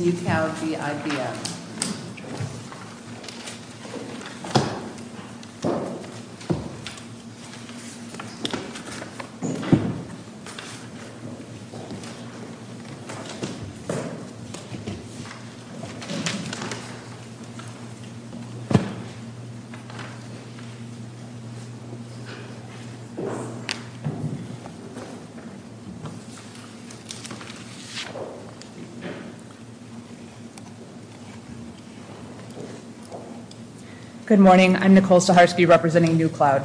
Neu Cloud v. IBM. Good morning. I'm Nicole Saharsky representing Neu Cloud.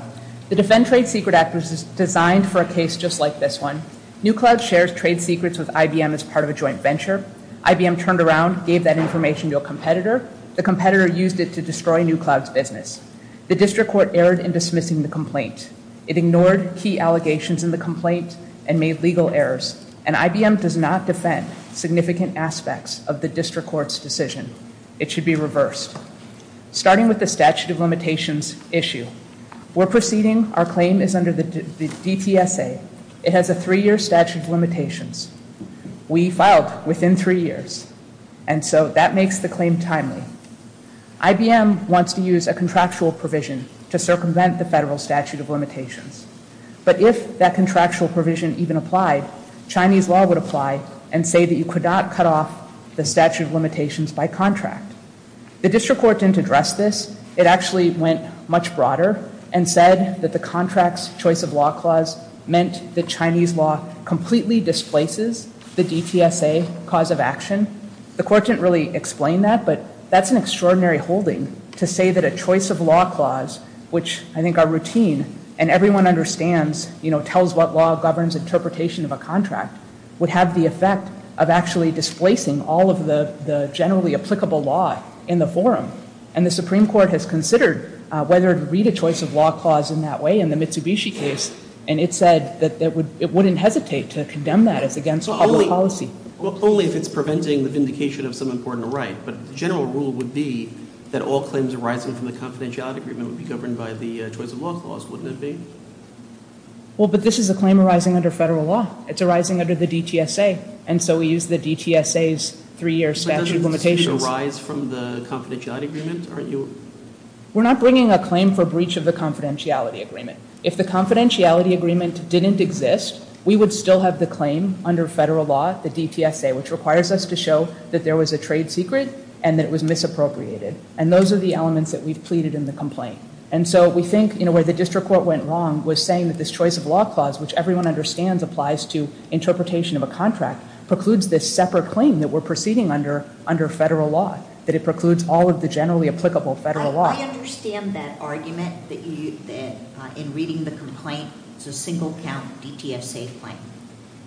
The Defend Trade Secret Act was designed for a case just like this one. Neu Cloud shares trade secrets with IBM as part of a joint venture. IBM turned around, gave that information to a competitor. The competitor used it to destroy Neu Cloud's business. The district court erred in dismissing the complaint. It ignored key allegations in the complaint and made legal errors. And IBM does not defend significant aspects of this case. So what do we do with the district court's decision? It should be reversed. Starting with the statute of limitations issue. We're proceeding. Our claim is under the DTSA. It has a three-year statute of limitations. We filed within three years. And so that makes the claim timely. IBM wants to use a contractual provision to circumvent the federal statute of limitations. But if that contractual provision even applied, Chinese law would apply and say that you could not cut off the statute of limitations by contract. The district court didn't address this. It actually went much broader and said that the contract's choice of law clause meant that Chinese law completely displaces the DTSA cause of action. The court didn't really explain that, but that's an extraordinary holding to say that a choice of law clause, which I think are routine and everyone understands, you know, tells what law governs interpretation of a contract, would have the effect of actually displacing all of the generally applicable law in the forum. And the Supreme Court has considered whether to read a choice of law clause in that way in the Mitsubishi case, and it said that it wouldn't hesitate to condemn that as against public policy. Well, only if it's preventing the vindication of some important right. But the general rule would be that all claims arising from the confidentiality agreement would be governed by the choice of law clause, wouldn't it be? Well, but this is a claim arising under federal law. It's arising under the DTSA. And so we use the DTSA's three-year statute of limitations. But doesn't it arise from the confidentiality agreement? Aren't you? We're not bringing a claim for breach of the confidentiality agreement. If the confidentiality agreement didn't exist, we would still have the claim under federal law, the DTSA, which requires us to show that there was a trade secret and that it was misappropriated. And those are the elements that we've pleaded in the complaint. And so we think, you know, where the district court went wrong was saying that this choice of law clause, which everyone understands applies to interpretation of a contract, precludes this separate claim that we're proceeding under under federal law, that it precludes all of the generally applicable federal law. I understand that argument that in reading the complaint, it's a single count DTSA claim.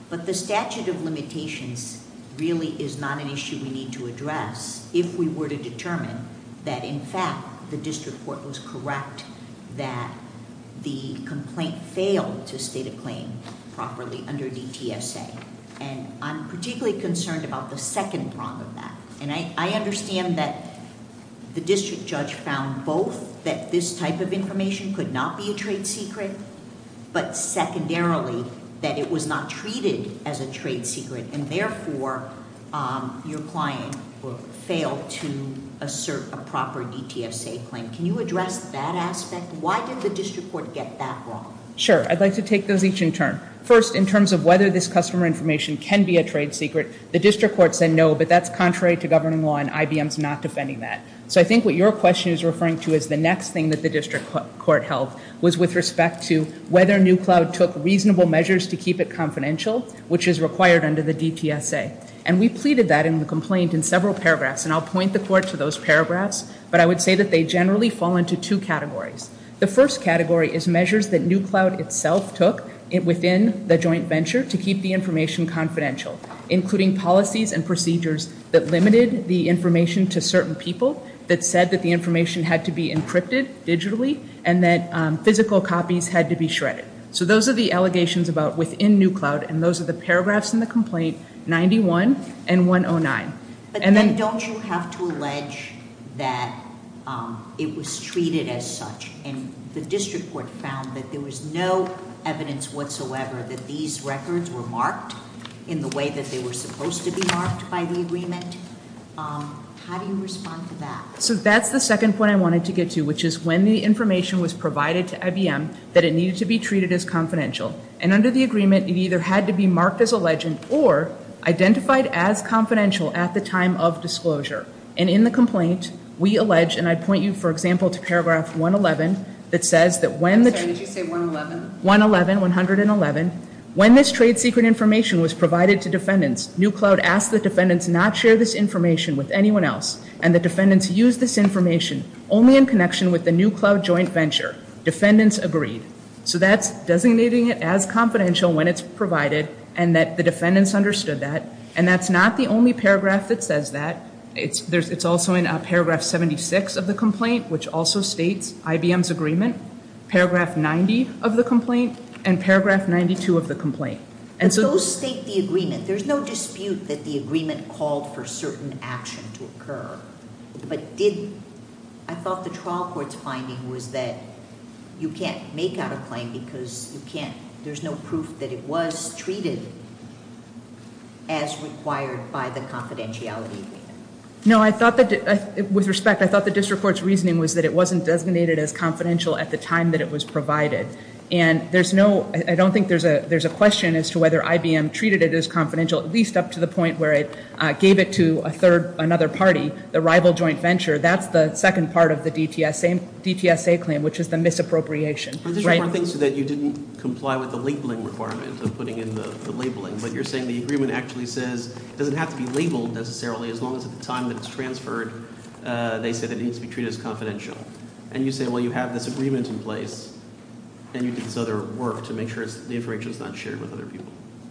But the statute of limitations really is not an issue we need to address if we were to determine that, in fact, the district court was correct that the complaint failed to state a claim properly under DTSA. And I'm particularly concerned about the second prong of that. And I understand that the district judge found both that this type of information could not be a trade secret, but secondarily, that it was not treated as a trade secret. And therefore, your client failed to assert a proper DTSA claim. Can you address that aspect? Why did the district court get that wrong? Sure. I'd like to take those each in turn. First, in terms of whether this customer information can be a trade secret, the district court said no, but that's contrary to governing law and IBM's not defending that. So I think what your question is referring to is the next thing that the district court held was with respect to whether NewCloud took reasonable measures to keep it confidential, which is required under the DTSA. And we pleaded that in the complaint in several paragraphs. And I'll point the court to those paragraphs. But I would say that they generally fall into two categories. The first category is measures that NewCloud itself took within the joint venture to keep the information confidential, including policies and procedures that limited the information to certain people, that said that the information had to be encrypted digitally, and that physical copies had to be shredded. So those are the allegations about within NewCloud, and those are the paragraphs in the complaint 91 and 109. But then don't you have to allege that it was treated as such? And the district court found that there was no evidence whatsoever that these records were marked in the way that they were supposed to be marked by the agreement. How do you respond to that? So that's the second point I wanted to get to, which is when the information was provided to IBM that it needed to be treated as confidential. And under the agreement, it either had to be marked as alleged or identified as confidential at the time of disclosure. And in the complaint, we allege, and I'd point you, for example, to paragraph 111 that says that when the- I'm sorry, did you say 111? 111, 111. When this trade secret information was provided to defendants, NewCloud asked the defendants not share this information with anyone else. And the defendants used this information only in connection with the NewCloud joint venture. Defendants agreed. So that's designating it as confidential when it's provided and that the defendants understood that. And that's not the only paragraph that says that. It's also in paragraph 76 of the complaint, which also states IBM's agreement, paragraph 90 of the complaint, and paragraph 92 of the complaint. But those state the agreement. There's no dispute that the agreement called for certain action to occur. But did- I thought the trial court's finding was that you can't make out a claim because you can't- there's no proof that it was treated as required by the confidentiality agreement. No, I thought that- with respect, I thought the district court's reasoning was that it wasn't designated as confidential at the time that it was provided. And there's no- I don't think there's a question as to whether IBM treated it as confidential, at least up to the point where it gave it to a third- another party, the rival joint venture. That's the second part of the DTSA claim, which is the misappropriation. But the district court thinks that you didn't comply with the labeling requirement of putting in the labeling. But you're saying the agreement actually says it doesn't have to be labeled necessarily as long as at the time that it's transferred, they said it needs to be treated as confidential. And you say, well, you have this agreement in place, and you did this other work to make sure the information's not shared with other people.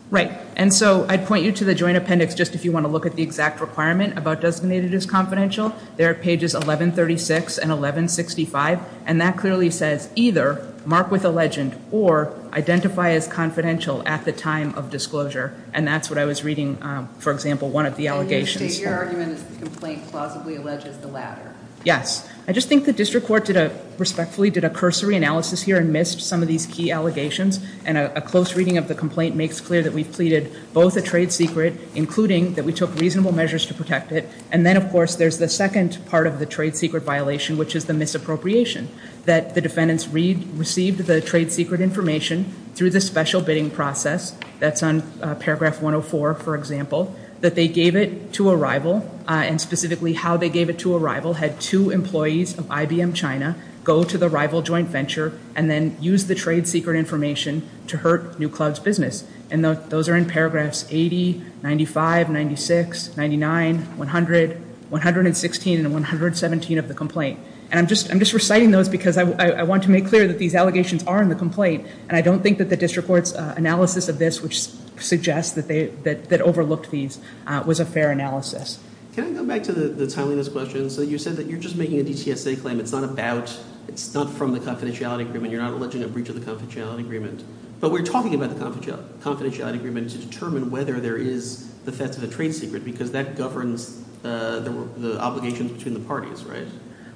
Right. And so I'd point you to the joint appendix just if you want to look at the exact requirement about designated as confidential. They're at pages 1136 and 1165. And that clearly says either mark with a legend or identify as confidential at the time of disclosure. And that's what I was reading, for example, one of the allegations. And you state your argument is the complaint plausibly alleges the latter. Yes. I just think the district court did a- respectfully did a cursory analysis here and missed some of these key allegations. And a close reading of the complaint makes clear that we've pleaded both a trade secret, including that we took reasonable measures to protect it. And then, of course, there's the second part of the trade secret violation, which is the misappropriation, that the defendants received the trade secret information through the special bidding process. That's on paragraph 104, for example, that they gave it to a rival. And specifically how they gave it to a rival had two employees of IBM China go to the rival joint venture and then use the trade secret information to hurt New Cloud's business. And those are in paragraphs 80, 95, 96, 99, 100, 116, and 117 of the complaint. And I'm just reciting those because I want to make clear that these allegations are in the complaint. And I don't think that the district court's analysis of this, which suggests that they- that overlooked these, was a fair analysis. Can I go back to the timeliness question? So you said that you're just making a DTSA claim. It's not about- it's not from the confidentiality agreement. You're not alleging a breach of the confidentiality agreement. But we're talking about the confidentiality agreement to determine whether there is the theft of the trade secret because that governs the obligations between the parties, right?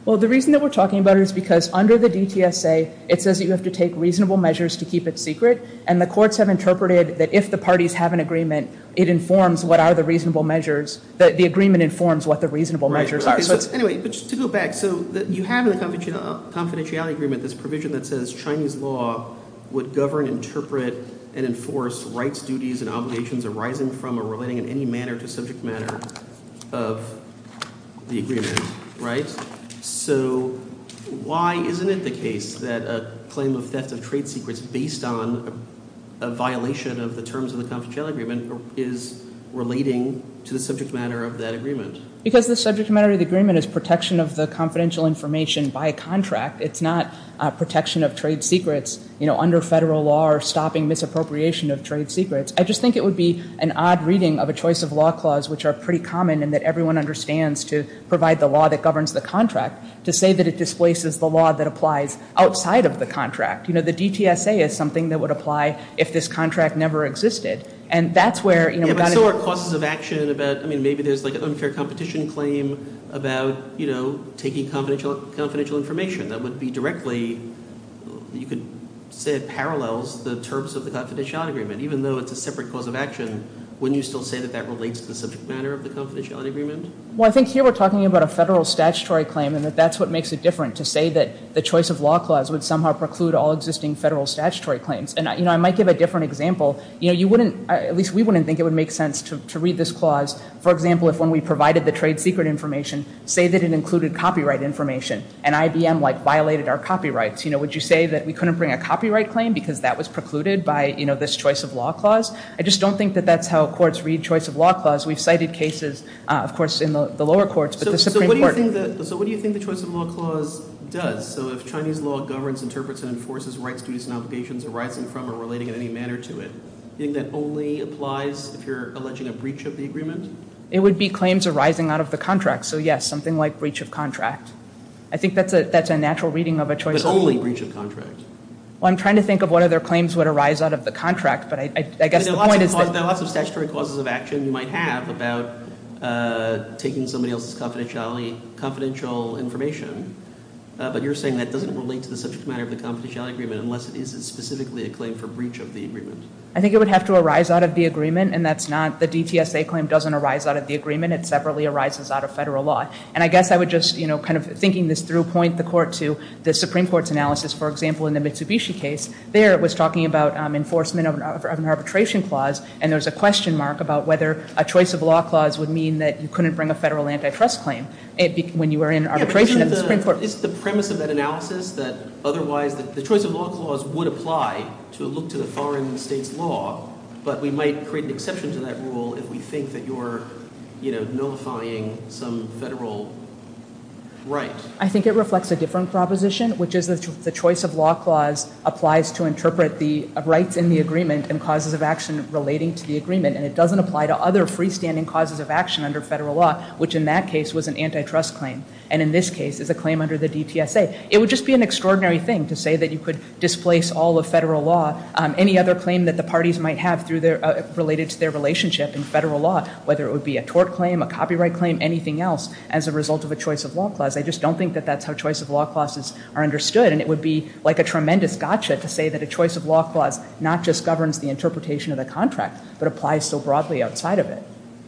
Well, the reason that we're talking about it is because under the DTSA, it says that you have to take reasonable measures to keep it secret. And the courts have interpreted that if the parties have an agreement, it informs what are the reasonable measures- The agreement informs what the reasonable measures are. Anyway, to go back, so you have in the confidentiality agreement this provision that says Chinese law would govern, interpret, and enforce rights, duties, and obligations arising from or relating in any manner to subject matter of the agreement, right? So why isn't it the case that a claim of theft of trade secrets based on a violation of the terms of the confidentiality agreement is relating to the subject matter of that agreement? Because the subject matter of the agreement is protection of the confidential information by a contract. It's not protection of trade secrets, you know, under federal law or stopping misappropriation of trade secrets. I just think it would be an odd reading of a choice of law clause, which are pretty common and that everyone understands to provide the law that governs the contract, to say that it displaces the law that applies outside of the contract. You know, the DTSA is something that would apply if this contract never existed. And that's where, you know, we've got to... Yeah, but so are causes of action about, I mean, maybe there's like an unfair competition claim about, you know, taking confidential information that would be directly, you could say it parallels the terms of the confidentiality agreement, even though it's a separate cause of action, wouldn't you still say that that relates to the subject matter of the confidentiality agreement? Well, I think here we're talking about a federal statutory claim and that that's what makes it different to say that the choice of law clause would somehow preclude all existing federal statutory claims. And, you know, I might give a different example. You know, you wouldn't, at least we wouldn't think it would make sense to read this clause. For example, if when we provided the trade secret information, say that it included copyright information and IBM, like, violated our copyrights, you know, would you say that we couldn't bring a copyright claim because that was precluded by, you know, this choice of law clause? I just don't think that that's how courts read choice of law clause. We've cited cases, of course, in the lower courts, but the Supreme Court... So what do you think the choice of law clause does? So if Chinese law governs, interprets, and enforces rights, duties, and obligations arising from or relating in any manner to it, do you think that only applies if you're alleging a breach of the agreement? It would be claims arising out of the contract. So, yes, something like breach of contract. I think that's a natural reading of a choice of law. But only breach of contract. Well, I'm trying to think of what other claims would arise out of the contract, but I guess the point is that... There are lots of statutory causes of action you might have about taking somebody else's confidential information, but you're saying that doesn't relate to the subject matter of the confidentiality agreement unless it is specifically a claim for breach of the agreement. I think it would have to arise out of the agreement, and that's not... The DTSA claim doesn't arise out of the agreement. It separately arises out of federal law. And I guess I would just, you know, kind of thinking this through, point the court to the Supreme Court's analysis. For example, in the Mitsubishi case, there it was talking about enforcement of an arbitration clause, and there's a question mark about whether a choice of law clause would mean that you couldn't bring a federal antitrust claim when you were in arbitration at the Supreme Court. Is the premise of that analysis that otherwise the choice of law clause would apply to look to the foreign state's law, but we might create an exception to that rule if we think that you're, you know, nullifying some federal right? I think it reflects a different proposition, which is the choice of law clause applies to interpret the rights in the agreement and causes of action relating to the agreement, and it doesn't apply to other freestanding causes of action under federal law, which in that case was an antitrust claim, and in this case is a claim under the DTSA. It would just be an extraordinary thing to say that you could displace all of federal law, any other claim that the parties might have related to their relationship in federal law, whether it would be a tort claim, a copyright claim, anything else, as a result of a choice of law clause. I just don't think that that's how choice of law clauses are understood, and it would be like a tremendous gotcha to say that a choice of law clause not just governs the interpretation of the contract, but applies so broadly outside of it.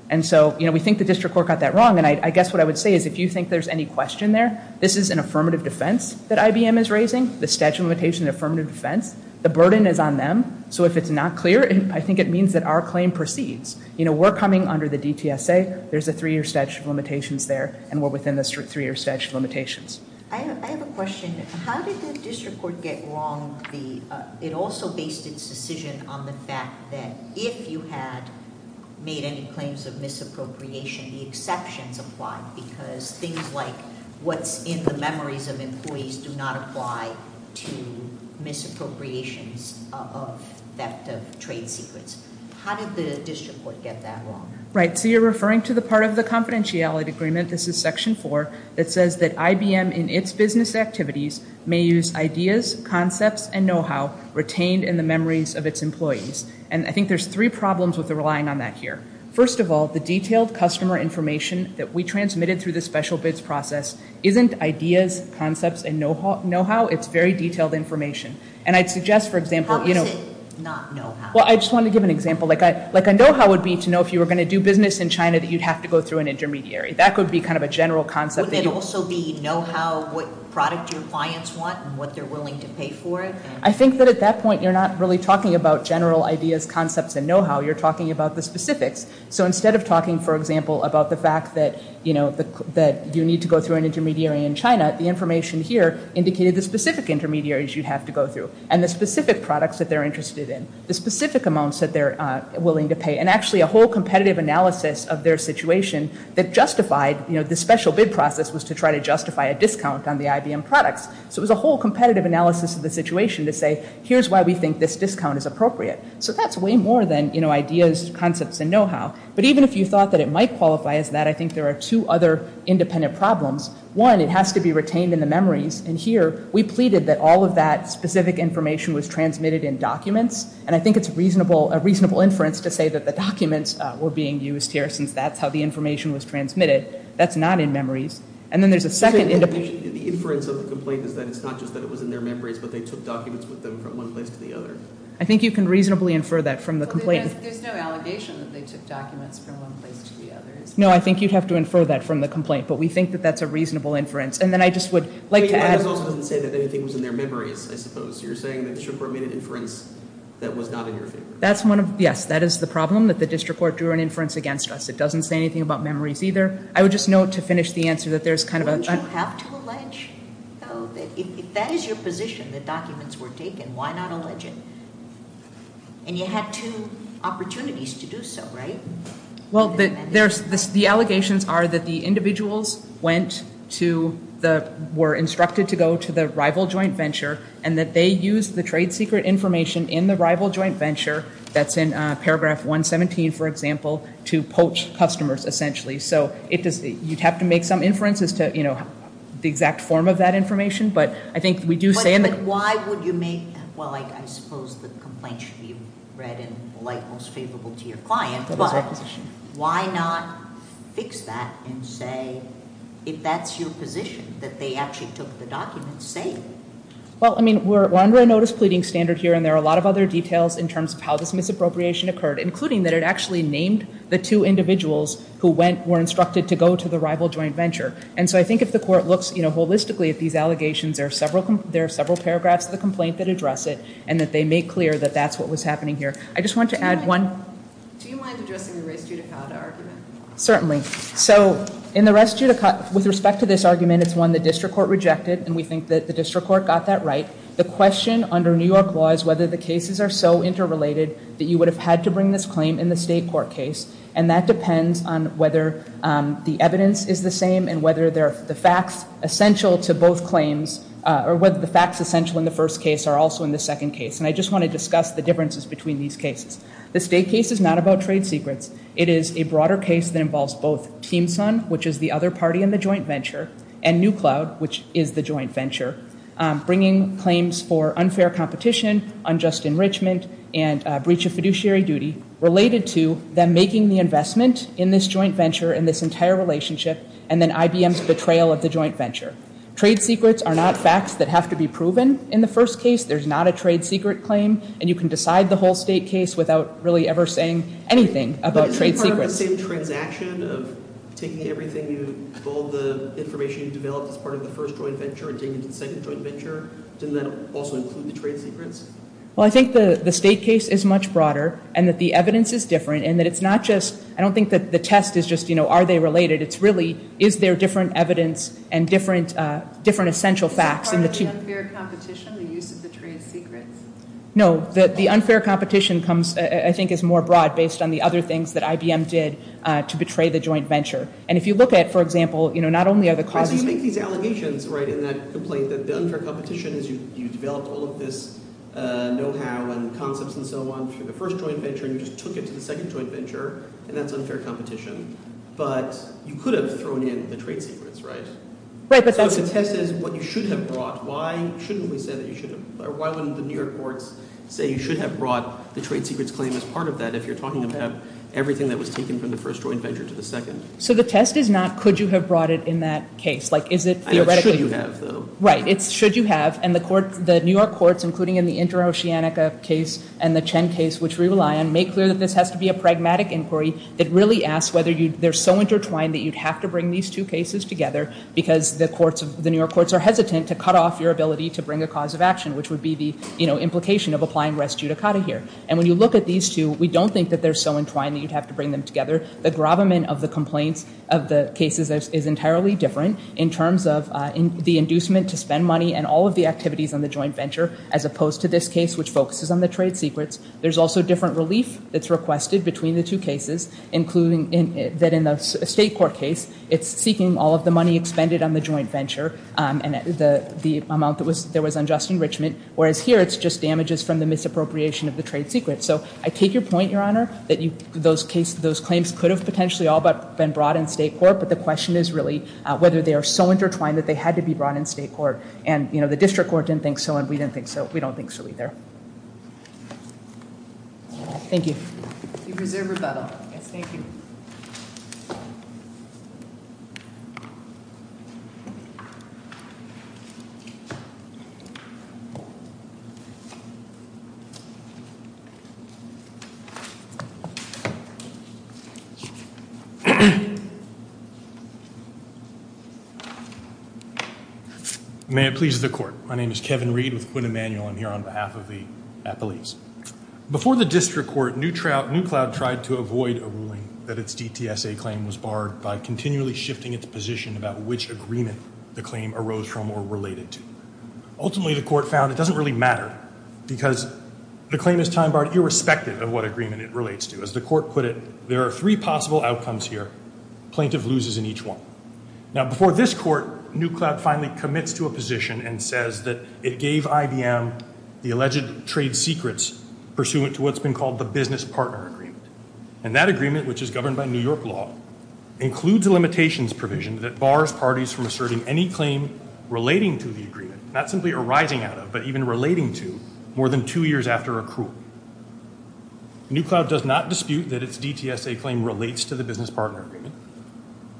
And so, you know, we think the district court got that wrong, and I guess what I would say is, if you think there's any question there, this is an affirmative defense that IBM is raising, the statute of limitations and affirmative defense. The burden is on them, so if it's not clear, I think it means that our claim proceeds. You know, we're coming under the DTSA, there's a three-year statute of limitations there, and we're within the three-year statute of limitations. I have a question. How did the district court get wrong? It also based its decision on the fact that if you had made any claims of misappropriation, the exceptions apply, because things like what's in the memories of employees do not apply to misappropriations of theft of trade secrets. How did the district court get that wrong? Right, so you're referring to the part of the confidentiality agreement, this is Section 4, that says that IBM, in its business activities, may use ideas, concepts, and know-how retained in the memories of its employees. And I think there's three problems with relying on that here. First of all, the detailed customer information that we transmitted through the special bids process isn't ideas, concepts, and know-how, it's very detailed information. And I'd suggest, for example, you know... How is it not know-how? Well, I just wanted to give an example. Like a know-how would be to know if you were going to do business in China that you'd have to go through an intermediary. That could be kind of a general concept. Wouldn't it also be know-how, what product your clients want and what they're willing to pay for it? I think that at that point you're not really talking about general ideas, concepts, and know-how, you're talking about the specifics. So instead of talking, for example, about the fact that you need to go through an intermediary in China, the information here indicated the specific intermediaries you'd have to go through and the specific products that they're interested in, the specific amounts that they're willing to pay, and actually a whole competitive analysis of their situation that justified... You know, the special bid process was to try to justify a discount on the IBM products. So it was a whole competitive analysis of the situation to say, here's why we think this discount is appropriate. So that's way more than, you know, ideas, concepts, and know-how. But even if you thought that it might qualify as that, I think there are two other independent problems. One, it has to be retained in the memories. And here, we pleaded that all of that specific information was transmitted in documents. And I think it's a reasonable inference to say that the documents were being used here since that's how the information was transmitted. That's not in memories. And then there's a second independent... The inference of the complaint is that it's not just that it was in their memories, but they took documents with them from one place to the other. I think you can reasonably infer that from the complaint. There's no allegation that they took documents from one place to the other. No, I think you'd have to infer that from the complaint. But we think that that's a reasonable inference. And then I just would like to add... But it also doesn't say that anything was in their memories, I suppose. You're saying that the district court made an inference that was not in your favor. Yes, that is the problem, that the district court drew an inference against us. It doesn't say anything about memories either. I would just note to finish the answer that there's kind of a... Wouldn't you have to allege, though, that if that is your position, that documents were taken, why not allege it? And you had two opportunities to do so, right? Well, the allegations are that the individuals were instructed to go to the rival joint venture and that they used the trade secret information in the rival joint venture, that's in paragraph 117, for example, to poach customers, essentially. So you'd have to make some inference as to the exact form of that information. But I think we do say... But why would you make... Well, I suppose the complaint should be read in the light most favorable to your client. But why not fix that and say if that's your position, that they actually took the documents, say it? Well, I mean, we're under a notice pleading standard here and there are a lot of other details in terms of how this misappropriation occurred, including that it actually named the two individuals who were instructed to go to the rival joint venture. And so I think if the court looks holistically at these allegations, there are several paragraphs of the complaint that address it and that they make clear that that's what was happening here. I just want to add one... Do you mind addressing the res judicata argument? Certainly. So in the res judicata... With respect to this argument, it's one the district court rejected and we think that the district court got that right. The question under New York law is whether the cases are so interrelated that you would have had to bring this claim in the state court case. And that depends on whether the evidence is the same and whether the facts essential to both claims... Or whether the facts essential in the first case are also in the second case. And I just want to discuss the differences between these cases. The state case is not about trade secrets. It is a broader case that involves both Team Sun, which is the other party in the joint venture, and New Cloud, which is the joint venture, bringing claims for unfair competition, unjust enrichment, and breach of fiduciary duty, related to them making the investment in this joint venture and this entire relationship, and then IBM's betrayal of the joint venture. Trade secrets are not facts that have to be proven in the first case. There's not a trade secret claim. And you can decide the whole state case without really ever saying anything about trade secrets. But isn't it part of the same transaction of taking everything you... all the information you developed as part of the first joint venture and taking it to the second joint venture? Didn't that also include the trade secrets? Well, I think the state case is much broader and that the evidence is different and that it's not just... I don't think that the test is just, you know, are they related? It's really, is there different evidence and different essential facts in the two... Is that part of the unfair competition, the use of the trade secrets? No, the unfair competition comes... I think is more broad based on the other things that IBM did to betray the joint venture. And if you look at, for example, you know, not only are the causes... You make these allegations, right, in that complaint that the unfair competition is you developed all of this know-how and concepts and so on for the first joint venture and you just took it to the second joint venture and that's unfair competition. But you could have thrown in the trade secrets, right? Right, but that's... So if the test is what you should have brought, why shouldn't we say that you should have... Why wouldn't the New York courts say you should have brought the trade secrets claim as part of that if you're talking about everything that was taken from the first joint venture to the second? So the test is not, could you have brought it in that case? Like, is it theoretically... I know it's should you have, though. Right, it's should you have and the New York courts, including in the Inter Oceanica case and the Chen case, which we rely on, make clear that this has to be a pragmatic inquiry that really asks whether you... They're so intertwined that you'd have to bring these two cases together because the courts of... The New York courts are hesitant to cut off your ability to bring a cause of action, which would be the implication of applying res judicata here. And when you look at these two, we don't think that they're so entwined that you'd have to bring them together. The gravamen of the complaints of the cases is entirely different in terms of the inducement to spend money and all of the activities on the joint venture as opposed to this case, which focuses on the trade secrets. There's also different relief that's requested between the two cases, including that in the state court case, it's seeking all of the money expended on the joint venture and the amount that was... Enrichment. Whereas here, it's just damages from the misappropriation of the trade secrets. So I take your point, Your Honor, that those claims could have potentially all but been brought in state court, but the question is really whether they are so intertwined that they had to be brought in state court. And the district court didn't think so and we didn't think so. We don't think so either. Thank you. The reserve rebuttal. Yes, thank you. Thank you. May it please the court. My name is Kevin Reed with Quinn Emanuel. I'm here on behalf of the appellees. Before the district court, Newcloud tried to avoid a ruling that its DTSA claim was barred by continually shifting its position about which agreement the claim arose from or related to. Ultimately, the court found it doesn't really matter because the claim is time-barred irrespective of what agreement it relates to. As the court put it, there are three possible outcomes here. Plaintiff loses in each one. Now, before this court, Newcloud finally commits to a position and says that it gave IBM the alleged trade secrets pursuant to what's been called the business partner agreement. And that agreement, which is governed by New York law, includes a limitations provision that bars parties from asserting any claim relating to the agreement, not simply arising out of, but even relating to, more than two years after accrual. Newcloud does not dispute that its DTSA claim relates to the business partner agreement.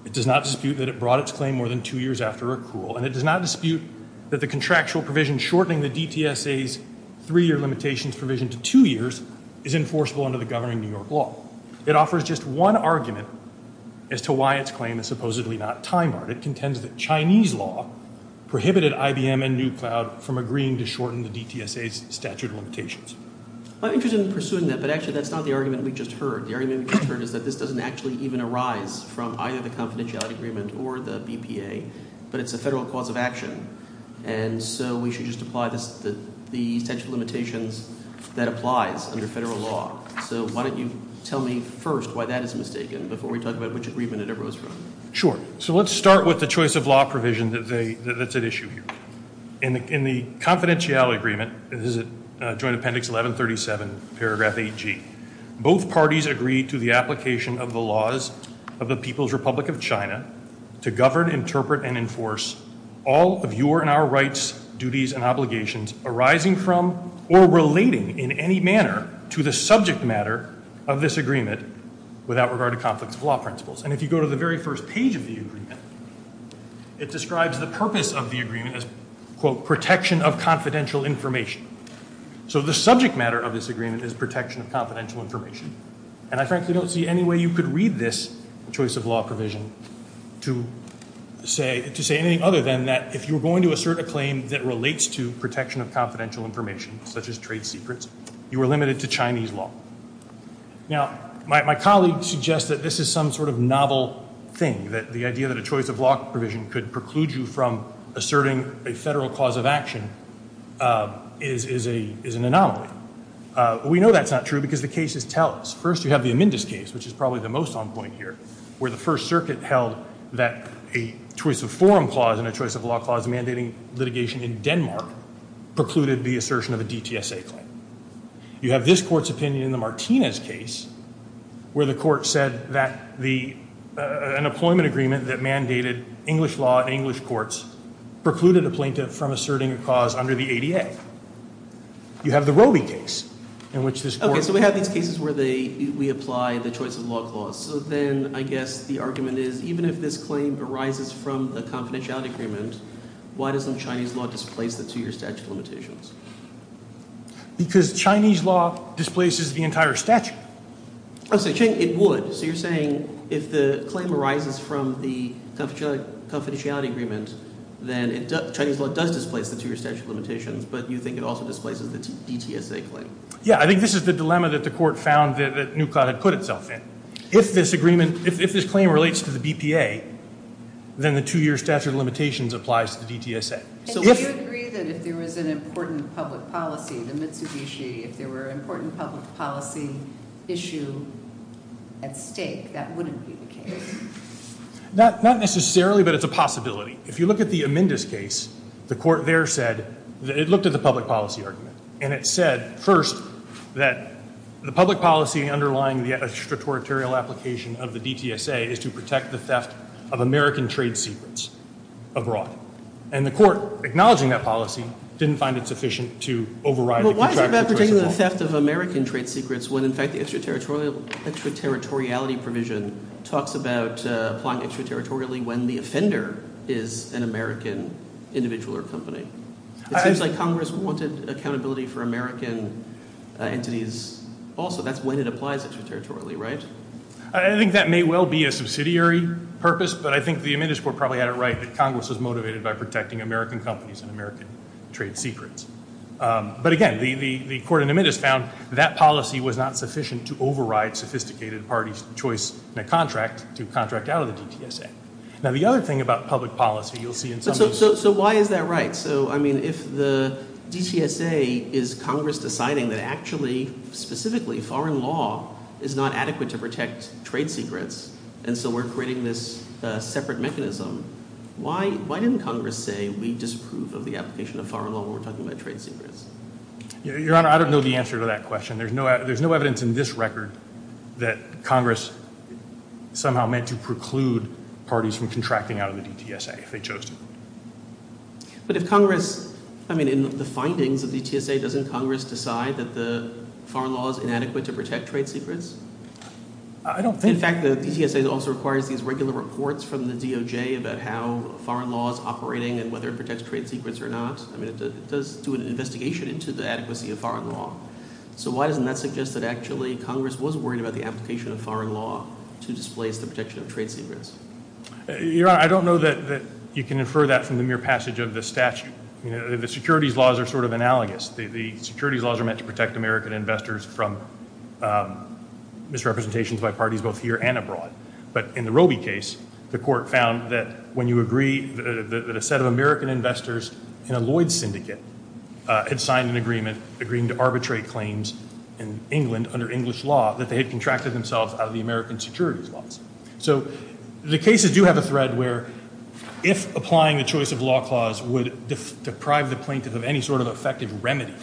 It does not dispute that it brought its claim more than two years after accrual. And it does not dispute that the contractual provision shortening the DTSA's three-year limitations provision to two years is enforceable under the governing New York law. It offers just one argument as to why its claim is supposedly not time-barred. It contends that Chinese law prohibited IBM and Newcloud from agreeing to shorten the DTSA's statute of limitations. I'm interested in pursuing that, but actually that's not the argument we just heard. The argument we just heard is that this doesn't actually even arise from either the confidentiality agreement or the BPA, but it's a federal cause of action. And so we should just apply the statute of limitations that applies under federal law. So why don't you tell me first why that is mistaken before we talk about which agreement it arose from. Sure. So let's start with the choice of law provision that's at issue here. In the confidentiality agreement, this is Joint Appendix 1137, paragraph 8G, both parties agree to the application of the laws of the People's Republic of China to govern, interpret, and enforce all of your and our rights, duties, and obligations arising from or relating in any manner to the subject matter of this agreement without regard to conflicts of law principles. And if you go to the very first page of the agreement, it describes the purpose of the agreement as, quote, protection of confidential information. So the subject matter of this agreement is protection of confidential information. And I frankly don't see any way you could read this choice of law provision to say anything other than that if you're going to assert a claim that relates to protection of confidential information, such as trade secrets, you are limited to Chinese law. Now, my colleague suggests that this is some sort of novel thing, that the idea that a choice of law provision could preclude you from asserting a federal clause of action is an anomaly. We know that's not true because the cases tell us. First, you have the Amendus case, which is probably the most on point here, where the First Circuit held that a choice of forum clause and a choice of law clause mandating litigation in Denmark precluded the assertion of a DTSA claim. You have this Court's opinion in the Martinez case where the Court said that an employment agreement that mandated English law in English courts precluded a plaintiff from asserting a clause under the ADA. You have the Roby case in which this Court... Okay, so we have these cases where we apply the choice of law clause. So then I guess the argument is even if this claim arises from the confidentiality agreement, why doesn't Chinese law displace the two-year statute of limitations? Because Chinese law displaces the entire statute. Oh, so it would. So you're saying if the claim arises from the confidentiality agreement, then Chinese law does displace the two-year statute of limitations, but you think it also displaces the DTSA claim. Yeah, I think this is the dilemma that the Court found that Nuklaut had put itself in. If this claim relates to the BPA, then the two-year statute of limitations applies to the DTSA. So would you agree that if there was an important public policy, the Mitsubishi, if there were an important public policy issue at stake, that wouldn't be the case? Not necessarily, but it's a possibility. If you look at the Amendus case, the Court there said that it looked at the public policy argument and it said, first, that the public policy underlying the extraterritorial application of the DTSA is to protect the theft of American trade secrets abroad. And the Court, acknowledging that policy, didn't find it sufficient to override the contractual choice of law. But why is it bad for taking the theft of American trade secrets when, in fact, the extraterritoriality provision talks about applying extraterritorially when the offender is an American individual or company? It seems like Congress wanted accountability for American entities also. That's when it applies extraterritorially, right? I think that may well be a subsidiary purpose, but I think the Amendus Court probably had it right that Congress was motivated by protecting American companies and American trade secrets. But again, the Court in Amendus found that policy was not sufficient to override sophisticated party choice in a contract to contract out of the DTSA. Now, the other thing about public policy, you'll see in some cases... So why is that right? So, I mean, if the DTSA is Congress deciding that actually, specifically, foreign law is not adequate to protect trade secrets, and so we're creating this separate mechanism, why didn't Congress say we disapprove of the application of foreign law when we're talking about trade secrets? Your Honor, I don't know the answer to that question. There's no evidence in this record that Congress somehow meant to preclude parties from contracting out of the DTSA if they chose to. But if Congress... I mean, in the findings of the DTSA, doesn't Congress decide that the foreign law is inadequate to protect trade secrets? I don't think... In fact, the DTSA also requires these regular reports from the DOJ about how foreign law is operating and whether it protects trade secrets or not. I mean, it does do an investigation into the adequacy of foreign law. So why doesn't that suggest that actually Congress was worried about the application of foreign law to displace the protection of trade secrets? Your Honor, I don't know that you can infer that from the mere passage of the statute. The securities laws are sort of analogous. The securities laws are meant to protect American investors from misrepresentations by parties both here and abroad. But in the Roby case, the court found that when you agree that a set of American investors in a Lloyds syndicate had signed an agreement agreeing to arbitrate claims in England under English law, that they had contracted themselves out of the American securities laws. So the cases do have a thread where if applying the choice of law clause would deprive the plaintiff of any sort of effective remedy,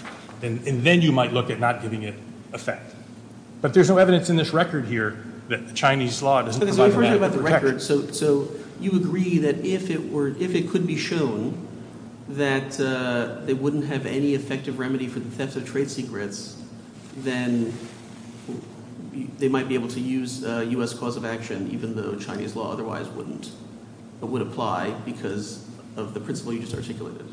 then you might look at not giving it effect. But there's no evidence in this record here that the Chinese law doesn't provide a manner of protection. So you agree that if it were, if it could be shown that they wouldn't have any effective remedy for the theft of trade secrets, then they might be able to use U.S. cause of action even though Chinese law otherwise wouldn't, would apply because of the principle you just articulated.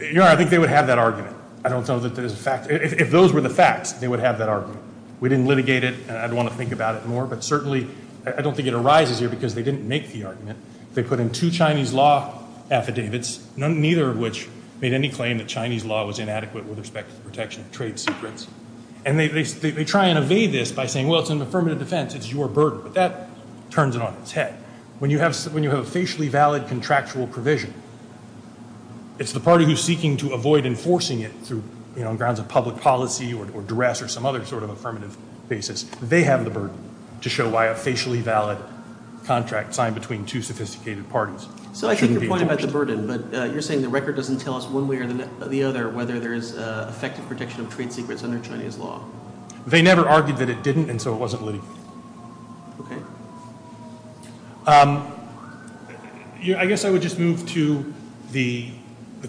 You're right. I think they would have that argument. I don't know that there's a fact. If those were the facts, they would have that argument. We didn't litigate it. I'd want to think about it more. But certainly, I don't think it arises here because they didn't make the argument. They put in two Chinese law affidavits, neither of which made any claim that Chinese law was inadequate with respect to the protection of trade secrets. And they try and evade this by saying, well, it's an affirmative defense. It's your burden. But that turns it on its head. When you have a facially valid contractual provision, it's the party who's seeking to avoid enforcing it through, you know, grounds of public policy or duress or some other sort of affirmative basis. They have the burden to show why a facially valid contract signed between two shouldn't be enforced. So I take your point about the burden, but you're saying the record doesn't tell us one way or the other whether there is effective protection of trade secrets under Chinese law. They never argued that it didn't, and so it wasn't litigated. Okay. Um, I guess I would just move to the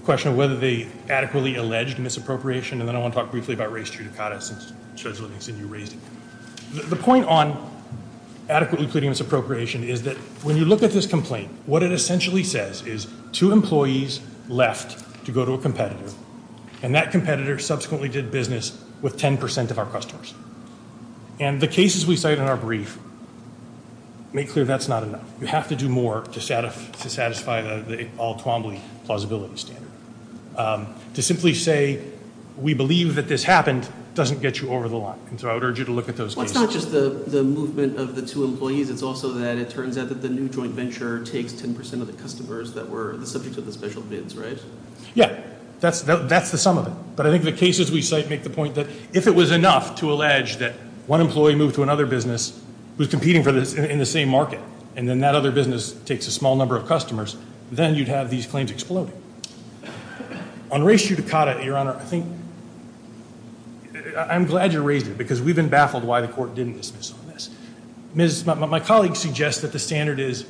question of whether they adequately alleged misappropriation, and then I want to talk briefly about race judicata since Judge Livingston, you raised it. The point on adequately pleading misappropriation is that when you look at this complaint, what it essentially says is two employees left to go to a competitor, and that competitor subsequently did business with 10 percent of our customers. And the cases we cite in our brief make clear that's not enough. You have to do more to satisfy plausibility standard. Um, to simply say we believe that this happened doesn't get you over the line. And so I would urge you to look at those cases. Well, it's not just the movement of the two employees, it's also that it turns out that the new joint venture takes 10 percent of the customers that were the subject of the special bids, right? Yeah. That's the sum of it. But I think the cases we cite make the point that if it was enough to allege that one employee moved to another business who's competing in the same market, and then that other business takes a small number of customers, then you'd have these claims exploding. On race judicata, Your Honor, I think I'm glad you raised it because we've been baffled why the court didn't dismiss on this. My colleague suggests that the standard is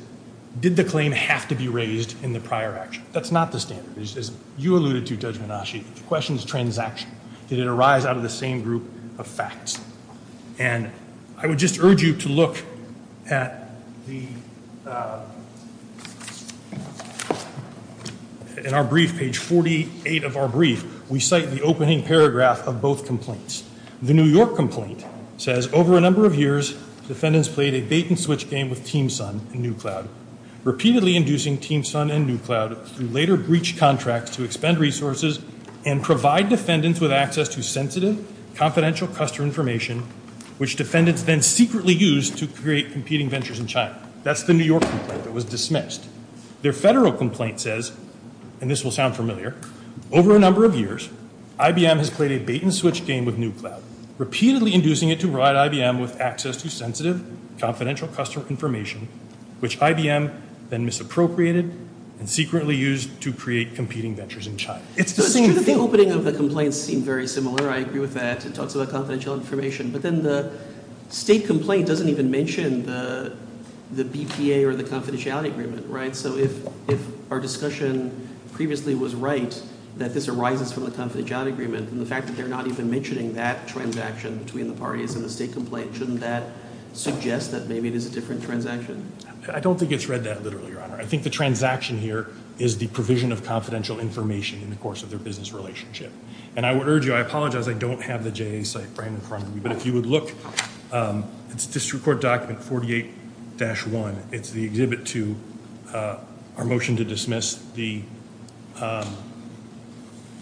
did the claim have to be raised in the prior action? That's not the standard. As you alluded to, Judge Menasci, the question is transaction. Did it arise out of the same group of facts? And I would just urge you to look at the in our brief, page 48 of our brief, we cite the opening paragraph of both complaints. The New York complaint says, over a number of years, defendants played a bait-and-switch game with Team Sun and New Cloud, repeatedly inducing Team Sun and New Cloud through later breach contracts to expend resources and provide defendants with access to sensitive, confidential customer information which defendants then secretly used to create competing ventures in China. That's the New York complaint that was dismissed. Their federal complaint says, and this will sound familiar, over a number of years, IBM has played a bait-and-switch game with New Cloud, repeatedly inducing it to provide IBM with access to sensitive, confidential customer information which IBM then misappropriated and secretly used to create competing ventures in China. It's the same thing. It's true that the opening of the complaint seemed very similar. I agree with that. It talks about confidential information, but then the state complaint doesn't even mention the BPA or the confidentiality agreement, right? So if our discussion previously was right, that this arises from the confidentiality agreement, and the fact that they're not even mentioning that transaction between the parties in the state complaint, shouldn't that suggest that maybe it is a different transaction? I don't think it's read that literally, Your Honor. I think the transaction here is the provision of confidential information in the course of their business relationship. And I would urge you, I apologize, I don't have the JA site framed in front of me, but if you would look, it's a district court document, 48-1. It's the exhibit to our motion to dismiss the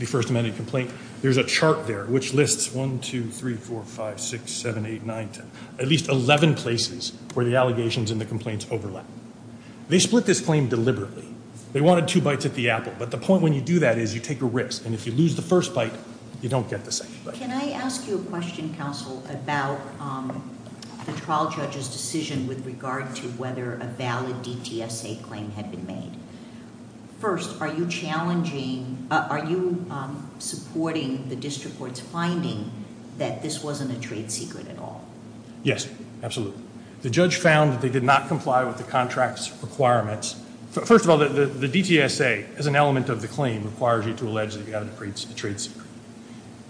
First Amendment complaint. There's a document There's a chart there which lists 1, 2, 3, 4, 5, 6, 7, 8, 9, 10. At least 11 places where the allegations and the complaints overlap. They split this claim deliberately. They wanted two bites at the apple. But the point when you do that is you take a risk. And if you lose the first bite, you don't get the second bite. Can I ask you a question, counsel, a valid DTSA claim had been made? First, are you challenging, are you supporting the decision to dismiss the First Amendment complaint? Second, are you supporting the district court's finding that this wasn't a trade secret at all? Yes. Absolutely. The judge found that they did not comply with the contract's requirements. First of all, the DTSA as an element of the claim requires you to allege that you have a trade secret.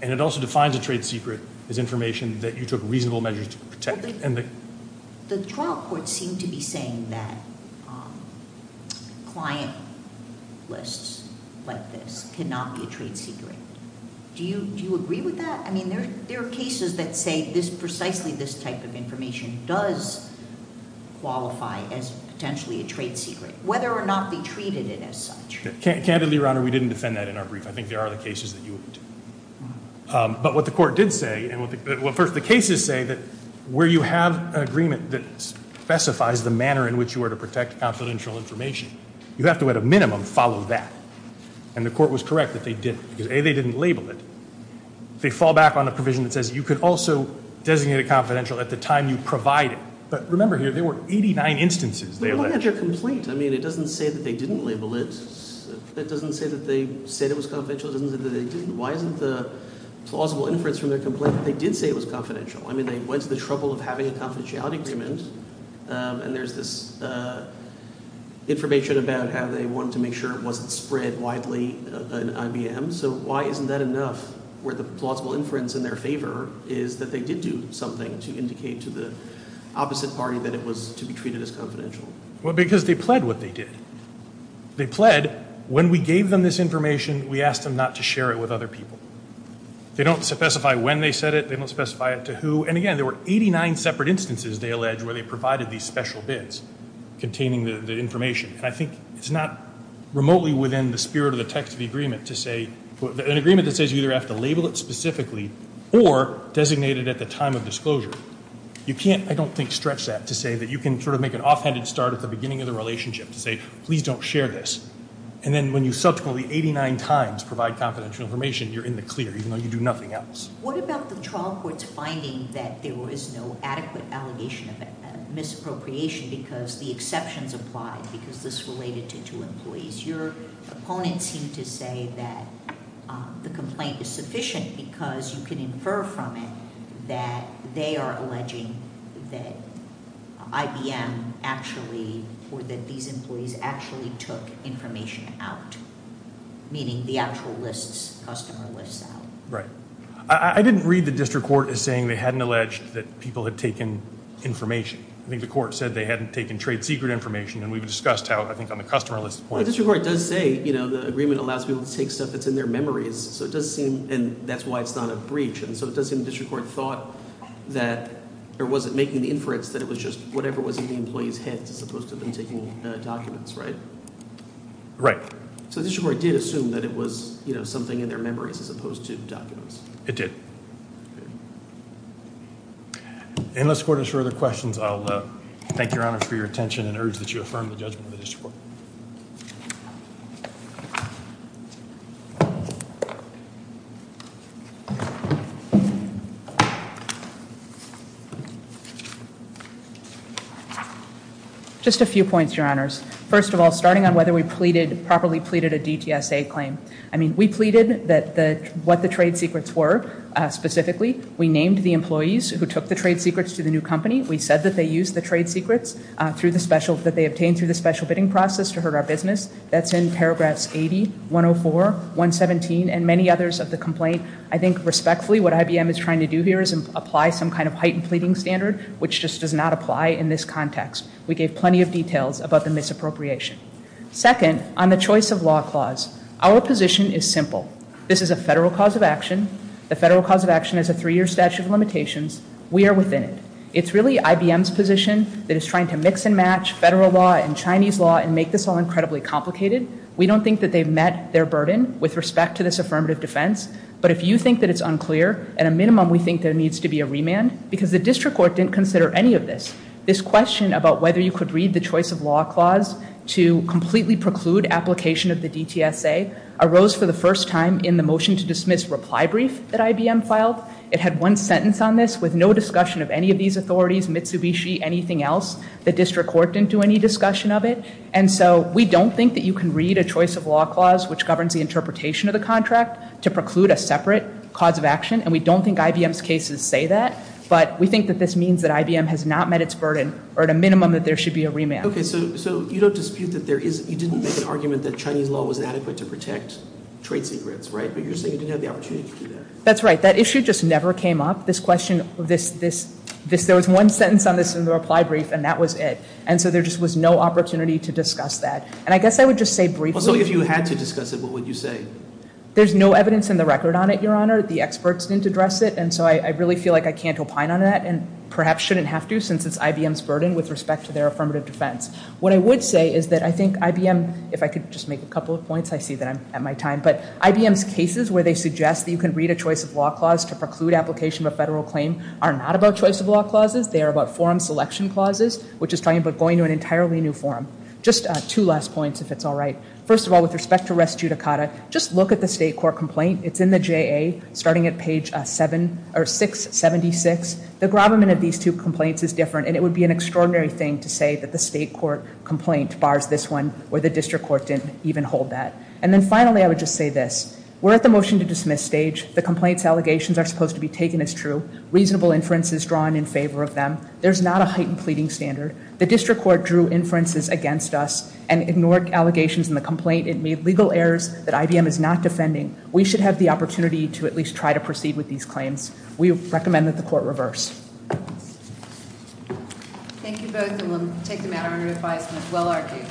And it also defines a trade secret as information that you took reasonable measures to protect. The trial court seemed to be saying that client lists like this cannot be a trade secret. Do you agree with that? I mean, there are cases that say precisely this type of information does qualify a trade secret, whether or not they treated it as such. Candidly, Your Honor, we didn't defend that in our brief. I think there are other cases that you would. But what the court did say, well, first, the cases say that where you have an agreement that specifies the manner in which you were to protect confidential information, you have to, at a minimum, follow that. And the court was correct that they didn't. Because A, they didn't label it. They fall back on a provision that says you could also designate it confidential at the time you provide it. But remember here, there were 89 instances they alleged. Well, look at your complaint. I mean, it doesn't say that they didn't label it. It doesn't say that they said it was confidential. It also doesn't say that they didn't. Why isn't the plausible inference from their complaint that they did say it was confidential? I mean, they went to the trouble of having a confidentiality agreement, and there's this information about how they wanted to make sure it wasn't spread widely in IBM. So why isn't that enough where the plausible inference in their favor is that they did do something to indicate to the opposite party that it was to be treated as confidential? Well, because they pled what they did. They pled when we gave them this information, we asked them not to share it with other people. They don't specify when they said it. They don't specify it to who. And again, there were 89 separate instances they alleged where they provided these special bids containing the information. And I think it's not remotely within the spirit of the text of the agreement to say an agreement that says you either have to label it specifically or designate it at the time of disclosure. You can't, I don't think, stretch that to say that you can sort of make an offhanded start at the beginning of the relationship to say please don't share this. And then when you subsequently 89 times provide confidential information, you're in the clear even though you do nothing else. What about the trial court's finding that there was no adequate allegation of misappropriation because the exceptions applied because this related to two employees. Your opponents seem to say that the complaint is sufficient because you from it that they are alleging that IBM actually, or that these employees actually took information out. Meaning the actual list's customer list's out. Right. I didn't read the district court as saying they hadn't alleged that people had taken information. I think the court said they hadn't taken trade secret information and we've discussed how I think on the customer list point. The district court does say the agreement allows people to take stuff that's in their memories and that's why it's not a breach. So it does seem the district court thought that or was it making the inference that it was just whatever was in the employee's head as opposed to them taking documents, right? Right. So the district court did assume that it was something in their memories as opposed to documents. It did. Unless the court has further questions, I'll thank you, Your Honor, for your attention and urge that you affirm the judgment of the district court. Just a few points, Your Honors. First of all, starting on whether we pleaded, properly pleaded a DTSA claim. I mean, we pleaded that what the trade secrets were specifically. We named the employees who took the trade secrets to the new company. We said that they used the trade secrets that they obtained through the special bidding process to hurt our business. That's in paragraphs 80, 104, 117, and many others of the complaint. I think respectfully, what IBM is trying to do here is apply some of things that we did not apply in this context. We gave plenty of details about the misappropriation. Second, on the choice of law clause, our position is simple. This is a federal cause of action. The federal cause of action is a three-year process. This question about whether you could read the choice of law clause arose for the first time in the motion to dismiss reply brief that IBM filed. We don't think you can read a choice of law clause which governs the interpretation of the contract to preclude a separate cause of action. We think this means that IBM has not met its burden. At a minimum, there should be a remand. That issue never came up. There was one sentence in the reply brief and that was it. There was no opportunity to discuss that issue. There's no evidence in the record on it. The experts didn't address it. I can't opine on that and shouldn't have to since it's IBM's burden. What I would say is that IBM's cases where they suggest you can read a choice of state court complaint. It's in the J.A. starting at page 676. It would be an extraordinary thing to say that the state court didn't hold that. We're at the motion to dismiss stage. There's not a heightened pleading standard. The district court drew inferences against us. We should have the opportunity to at least try to proceed with these claims. We recommend that the court reverse. Thank you both. We'll take the matter under advisement. Well argued.